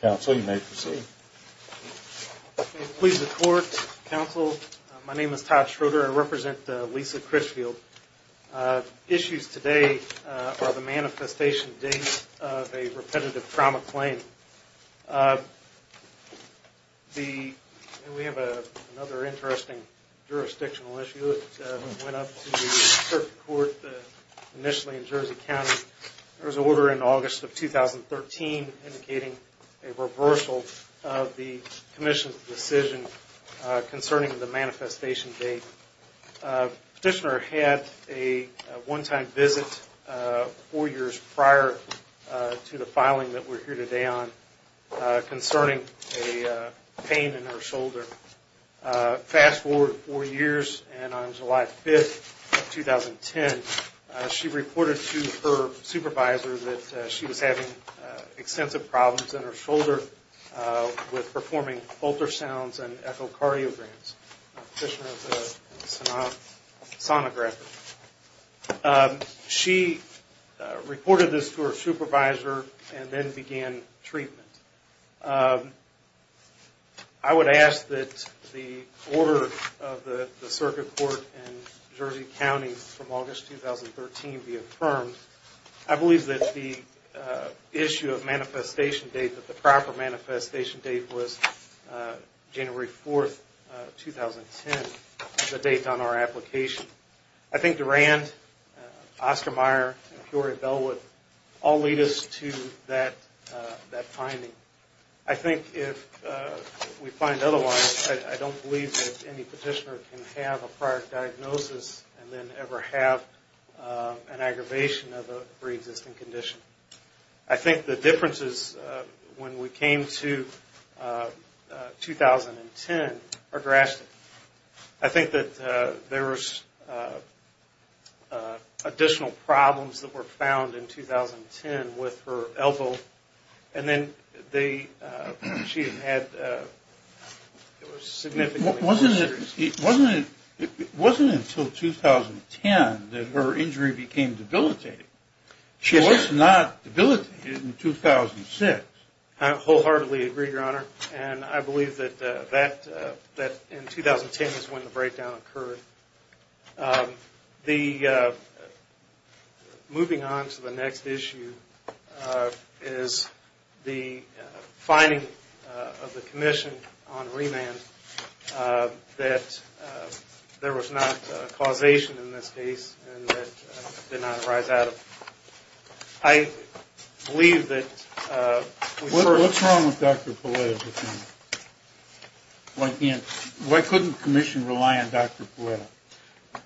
Counsel, you may proceed. Please report, Counsel. My name is Todd Schroeder. I represent Lisa Critchfield. Issues today are the manifestation date of a repetitive trauma claim. We have another interesting jurisdictional issue that went up to the circuit court initially in Jersey County. There was an order in August of 2013 indicating a reversal of the Commission's decision concerning the manifestation date. Petitioner had a one-time visit four years prior to the filing that we're here today on concerning a pain in her shoulder. Fast forward four years and on July 5, 2010, she reported to her supervisor that she was having extensive problems in her shoulder with performing ultrasounds and echocardiograms. She reported this to her supervisor and then began treatment. I would ask that the order of the circuit court in Jersey County from August 2013 be affirmed. I believe that the issue of manifestation date, that the proper manifestation date was January 4, 2010, the date on our application. I think Durand, Oscar Meyer, and Peoria Bellwood all lead us to that finding. I think if we find otherwise, I don't believe that any petitioner can have a prior diagnosis and then ever have an aggravation of a pre-existing condition. I think the differences when we came to 2010 are drastic. I think that there was additional problems that were found in 2010 with her elbow and then she had significant injuries. It wasn't until 2010 that her injury became debilitating. It was not debilitating in 2006. I wholeheartedly agree, Your Honor, and I believe that in 2010 is when the breakdown occurred. Moving on to the next issue is the finding of the commission on remand that there was not a causation in this case and that did not arise out of it. What's wrong with Dr. Palletta? Why couldn't the commission rely on Dr. Palletta?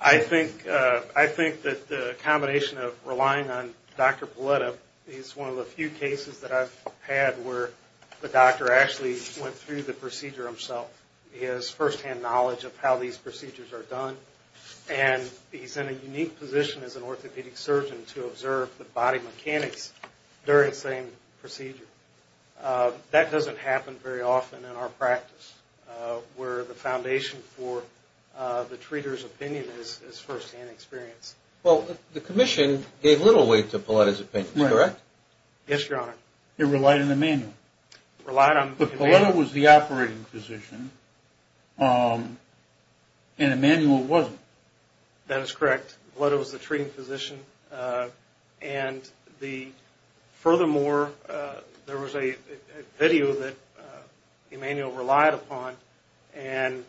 I think that the combination of relying on Dr. Palletta is one of the few cases that I've had where the doctor actually went through the procedure himself. He has firsthand knowledge of how these procedures are done and he's in a unique position as an orthopedic surgeon to observe the body mechanics during the same procedure. That doesn't happen very often in our practice where the foundation for the treater's opinion is firsthand experience. Well, the commission gave little weight to Palletta's opinion, correct? Yes, Your Honor. It relied on Emanuel. It relied on Emanuel. But Palletta was the operating physician and Emanuel wasn't. That is correct. Palletta was the treating physician. And furthermore, there was a video that Emanuel relied upon and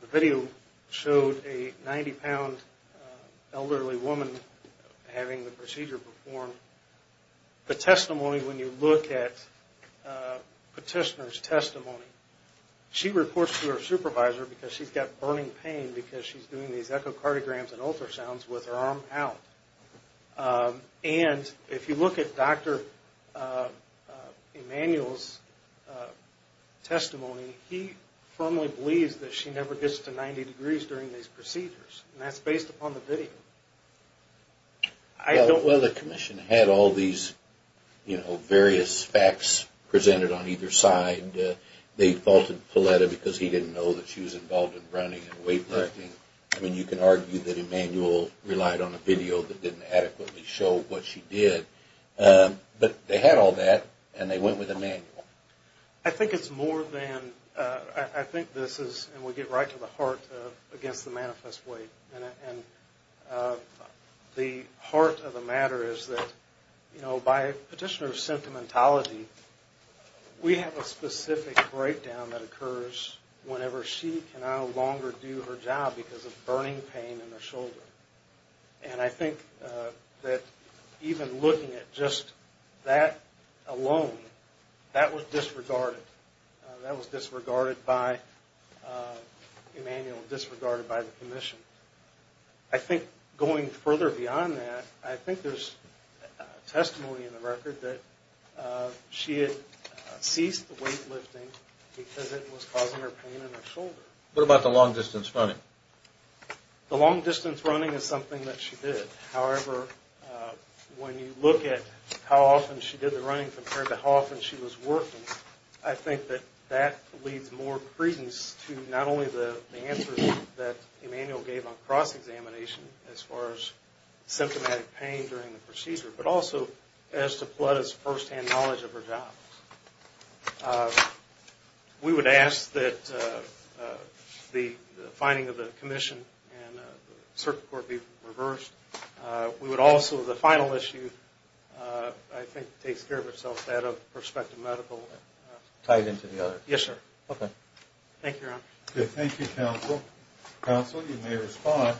the video showed a 90-pound elderly woman having the procedure performed. The testimony, when you look at Petitioner's testimony, she reports to her supervisor because she's got burning pain because she's doing these echocardiograms and ultrasounds with her arm out. And if you look at Dr. Emanuel's testimony, he firmly believes that she never gets to 90 degrees during these procedures. And that's based upon the video. Well, the commission had all these, you know, various facts presented on either side. They faulted Palletta because he didn't know that she was involved in running and weightlifting. I mean, you can argue that Emanuel relied on a video that didn't adequately show what she did. But they had all that and they went with Emanuel. I think it's more than – I think this is, and we get right to the heart, against the manifest weight. And the heart of the matter is that, you know, by Petitioner's symptomatology, we have a specific breakdown that occurs whenever she can no longer do her job because of burning pain in her shoulder. And I think that even looking at just that alone, that was disregarded. That was disregarded by Emanuel, disregarded by the commission. I think going further beyond that, I think there's testimony in the record that she had ceased weightlifting because it was causing her pain in her shoulder. What about the long-distance running? The long-distance running is something that she did. However, when you look at how often she did the running compared to how often she was working, I think that that leads more credence to not only the answers that Emanuel gave on cross-examination as far as symptomatic pain during the procedure, but also as to Palletta's first-hand knowledge of her job. We would ask that the finding of the commission and the circuit court be reversed. We would also, the final issue, I think, takes care of itself out of prospective medical. Tied into the other. Yes, sir. Okay. Thank you, Your Honor. Thank you, counsel. Counsel, you may respond.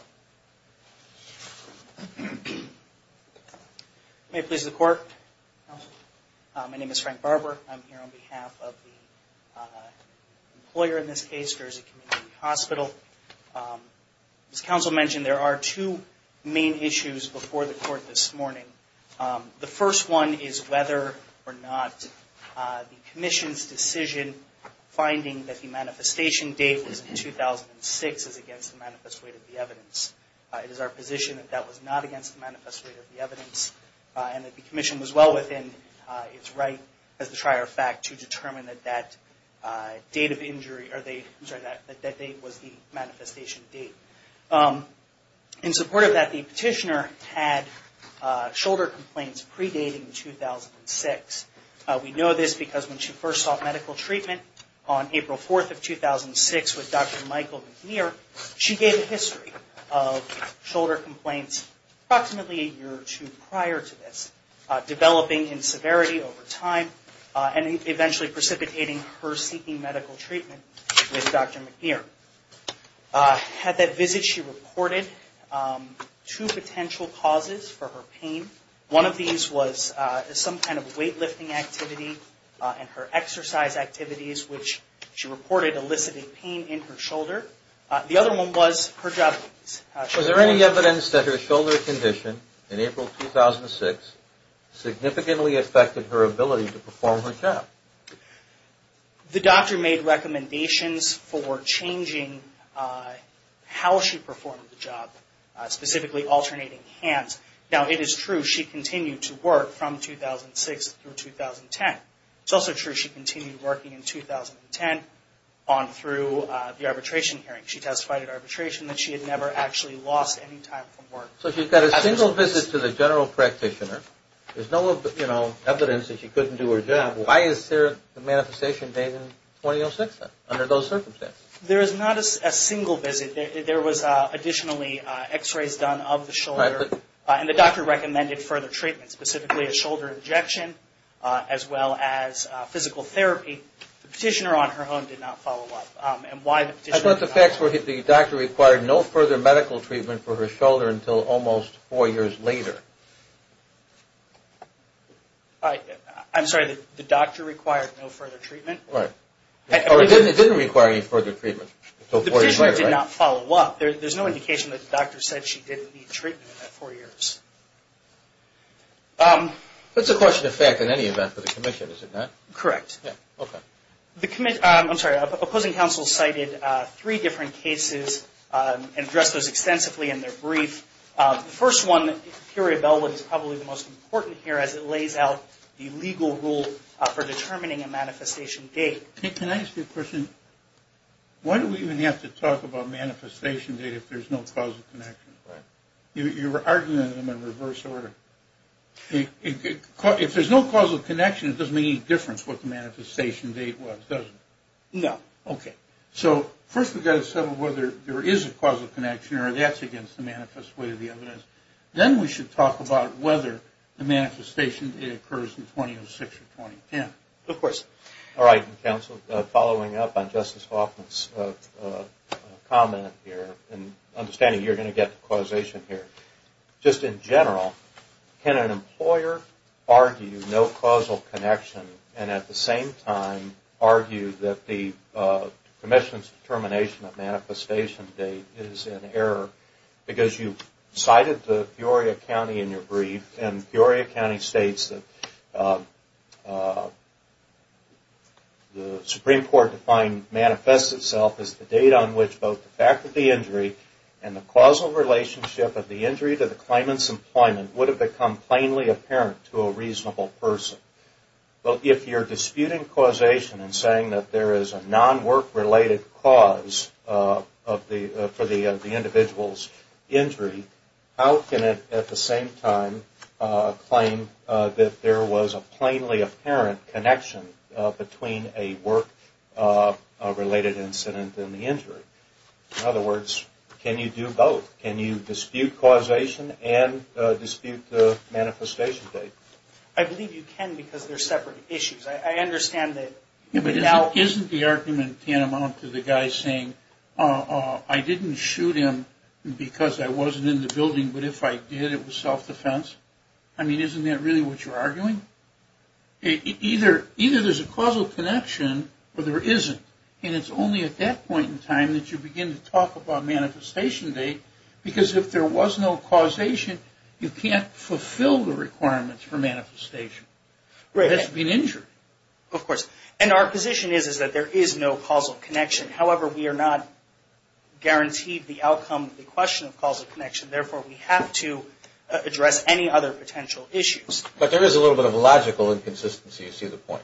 May it please the Court? My name is Frank Barber. I'm here on behalf of the employer in this case, Jersey Community Hospital. As counsel mentioned, there are two main issues before the Court this morning. The first one is whether or not the commission's decision finding that the manifestation date was in 2006 is against the manifest weight of the evidence. It is our position that that was not against the manifest weight of the evidence, and that the commission was well within its right, as a trier of fact, to determine that that date was the manifestation date. In support of that, the petitioner had shoulder complaints predating 2006. We know this because when she first sought medical treatment on April 4th of 2006 with Dr. Michael McNeer, she gave a history of shoulder complaints approximately a year or two prior to this, developing in severity over time and eventually precipitating her seeking medical treatment with Dr. McNeer. At that visit, she reported two potential causes for her pain. One of these was some kind of weight lifting activity and her exercise activities, which she reported eliciting pain in her shoulder. The other one was her job. Was there any evidence that her shoulder condition in April 2006 significantly affected her ability to perform her job? The doctor made recommendations for changing how she performed the job, specifically alternating hands. Now, it is true she continued to work from 2006 through 2010. It's also true she continued working in 2010 on through the arbitration hearing. She testified at arbitration that she had never actually lost any time from work. So she got a single visit to the general practitioner. There's no evidence that she couldn't do her job. Why is there a manifestation date in 2006 under those circumstances? There is not a single visit. There was additionally x-rays done of the shoulder, and the doctor recommended further treatment, specifically a shoulder injection as well as physical therapy. The petitioner on her own did not follow up. And why the petitioner did not follow up? I thought the facts were that the doctor required no further medical treatment for her shoulder until almost four years later. I'm sorry, the doctor required no further treatment? Right. Or it didn't require any further treatment. The petitioner did not follow up. There's no indication that the doctor said she didn't need treatment in that four years. That's a question of fact in any event for the commission, is it not? Correct. Okay. I'm sorry. Opposing counsel cited three different cases and addressed those extensively in their brief. The first one, Curia Bellwood, is probably the most important here as it lays out the legal rule for determining a manifestation date. Can I ask you a question? Why do we even have to talk about manifestation date if there's no causal connection? You're arguing them in reverse order. If there's no causal connection, it doesn't make any difference what the manifestation date was, does it? No. Okay. So first we've got to settle whether there is a causal connection or that's against the manifest way of the evidence. Then we should talk about whether the manifestation date occurs in 2006 or 2010. Of course. All right. Counsel, following up on Justice Hoffman's comment here and understanding you're going to get causation here. Just in general, can an employer argue no causal connection and at the same time argue that the commission's determination of manifestation date is in error because you cited the Peoria County in your brief and Peoria County states that the Supreme Court defined manifest itself as the date on which both the fact of the injury and the causal relationship of the injury to the claimant's employment would have become plainly apparent to a reasonable person. Well, if you're disputing causation and saying that there is a non-work related cause for the individual's injury, how can it at the same time claim that there was a plainly apparent connection between a work related incident and the injury? In other words, can you do both? Can you dispute causation and dispute the manifestation date? I believe you can because they're separate issues. I understand that. Isn't the argument tantamount to the guy saying, I didn't shoot him because I wasn't in the building, but if I did, it was self-defense? I mean, isn't that really what you're arguing? Either there's a causal connection or there isn't. And it's only at that point in time that you begin to talk about manifestation date because if there was no causation, you can't fulfill the requirements for manifestation. Right. It has to be an injury. Of course. And our position is that there is no causal connection. However, we are not guaranteed the outcome of the question of causal connection. Therefore, we have to address any other potential issues. But there is a little bit of a logical inconsistency, you see the point?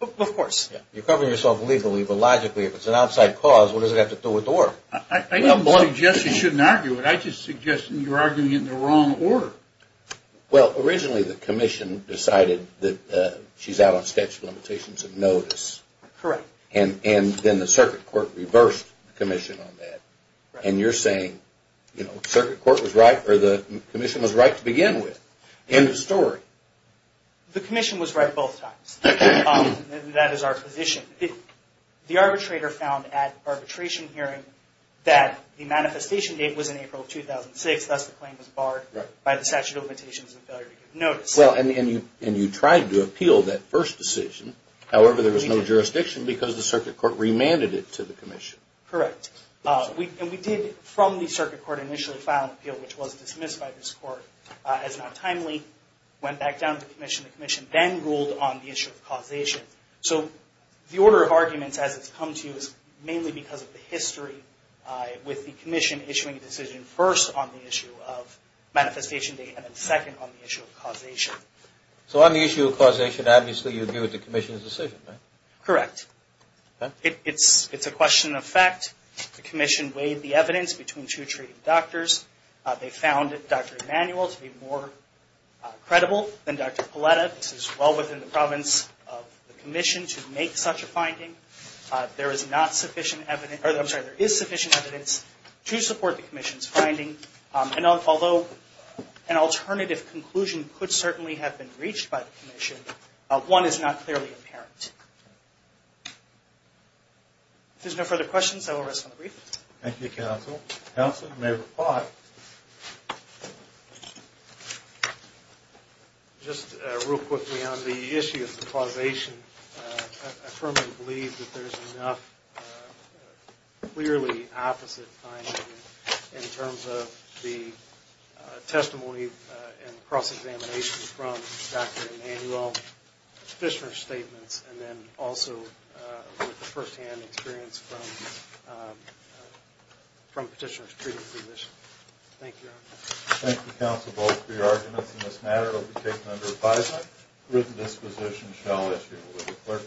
Of course. You're covering yourself legally, but logically, if it's an outside cause, what does it have to do with the work? I don't suggest you shouldn't argue it. I just suggest you're arguing it in the wrong order. Well, originally the commission decided that she's out on statute of limitations of notice. Correct. And then the circuit court reversed the commission on that. And you're saying the commission was right to begin with. End of story. The commission was right both times. That is our position. The arbitrator found at arbitration hearing that the manifestation date was in April 2006, thus the claim was barred by the statute of limitations and failure to give notice. And you tried to appeal that first decision. However, there was no jurisdiction because the circuit court remanded it to the commission. Correct. And we did, from the circuit court, initially file an appeal, which was dismissed by this court as not timely. Went back down to the commission. The commission then ruled on the issue of causation. So the order of arguments as it's come to you is mainly because of the history. With the commission issuing a decision first on the issue of manifestation date and then second on the issue of causation. So on the issue of causation, obviously you agree with the commission's decision, right? Correct. It's a question of fact. The commission weighed the evidence between two treating doctors. They found Dr. Emanuel to be more credible than Dr. Paletta. This is well within the province of the commission to make such a finding. There is sufficient evidence to support the commission's finding. And although an alternative conclusion could certainly have been reached by the commission, one is not clearly apparent. If there's no further questions, I will rest on the brief. Thank you, counsel. Counsel, you may reply. Just real quickly on the issue of causation. I firmly believe that there's enough clearly opposite findings in terms of the testimony and cross-examination from Dr. Emanuel, petitioner's statements, and then also with the first-hand experience from petitioners treating physicians. Thank you, Your Honor. Thank you, counsel, both for your arguments in this matter. It will be taken under advisement. Written disposition shall issue with the clerk.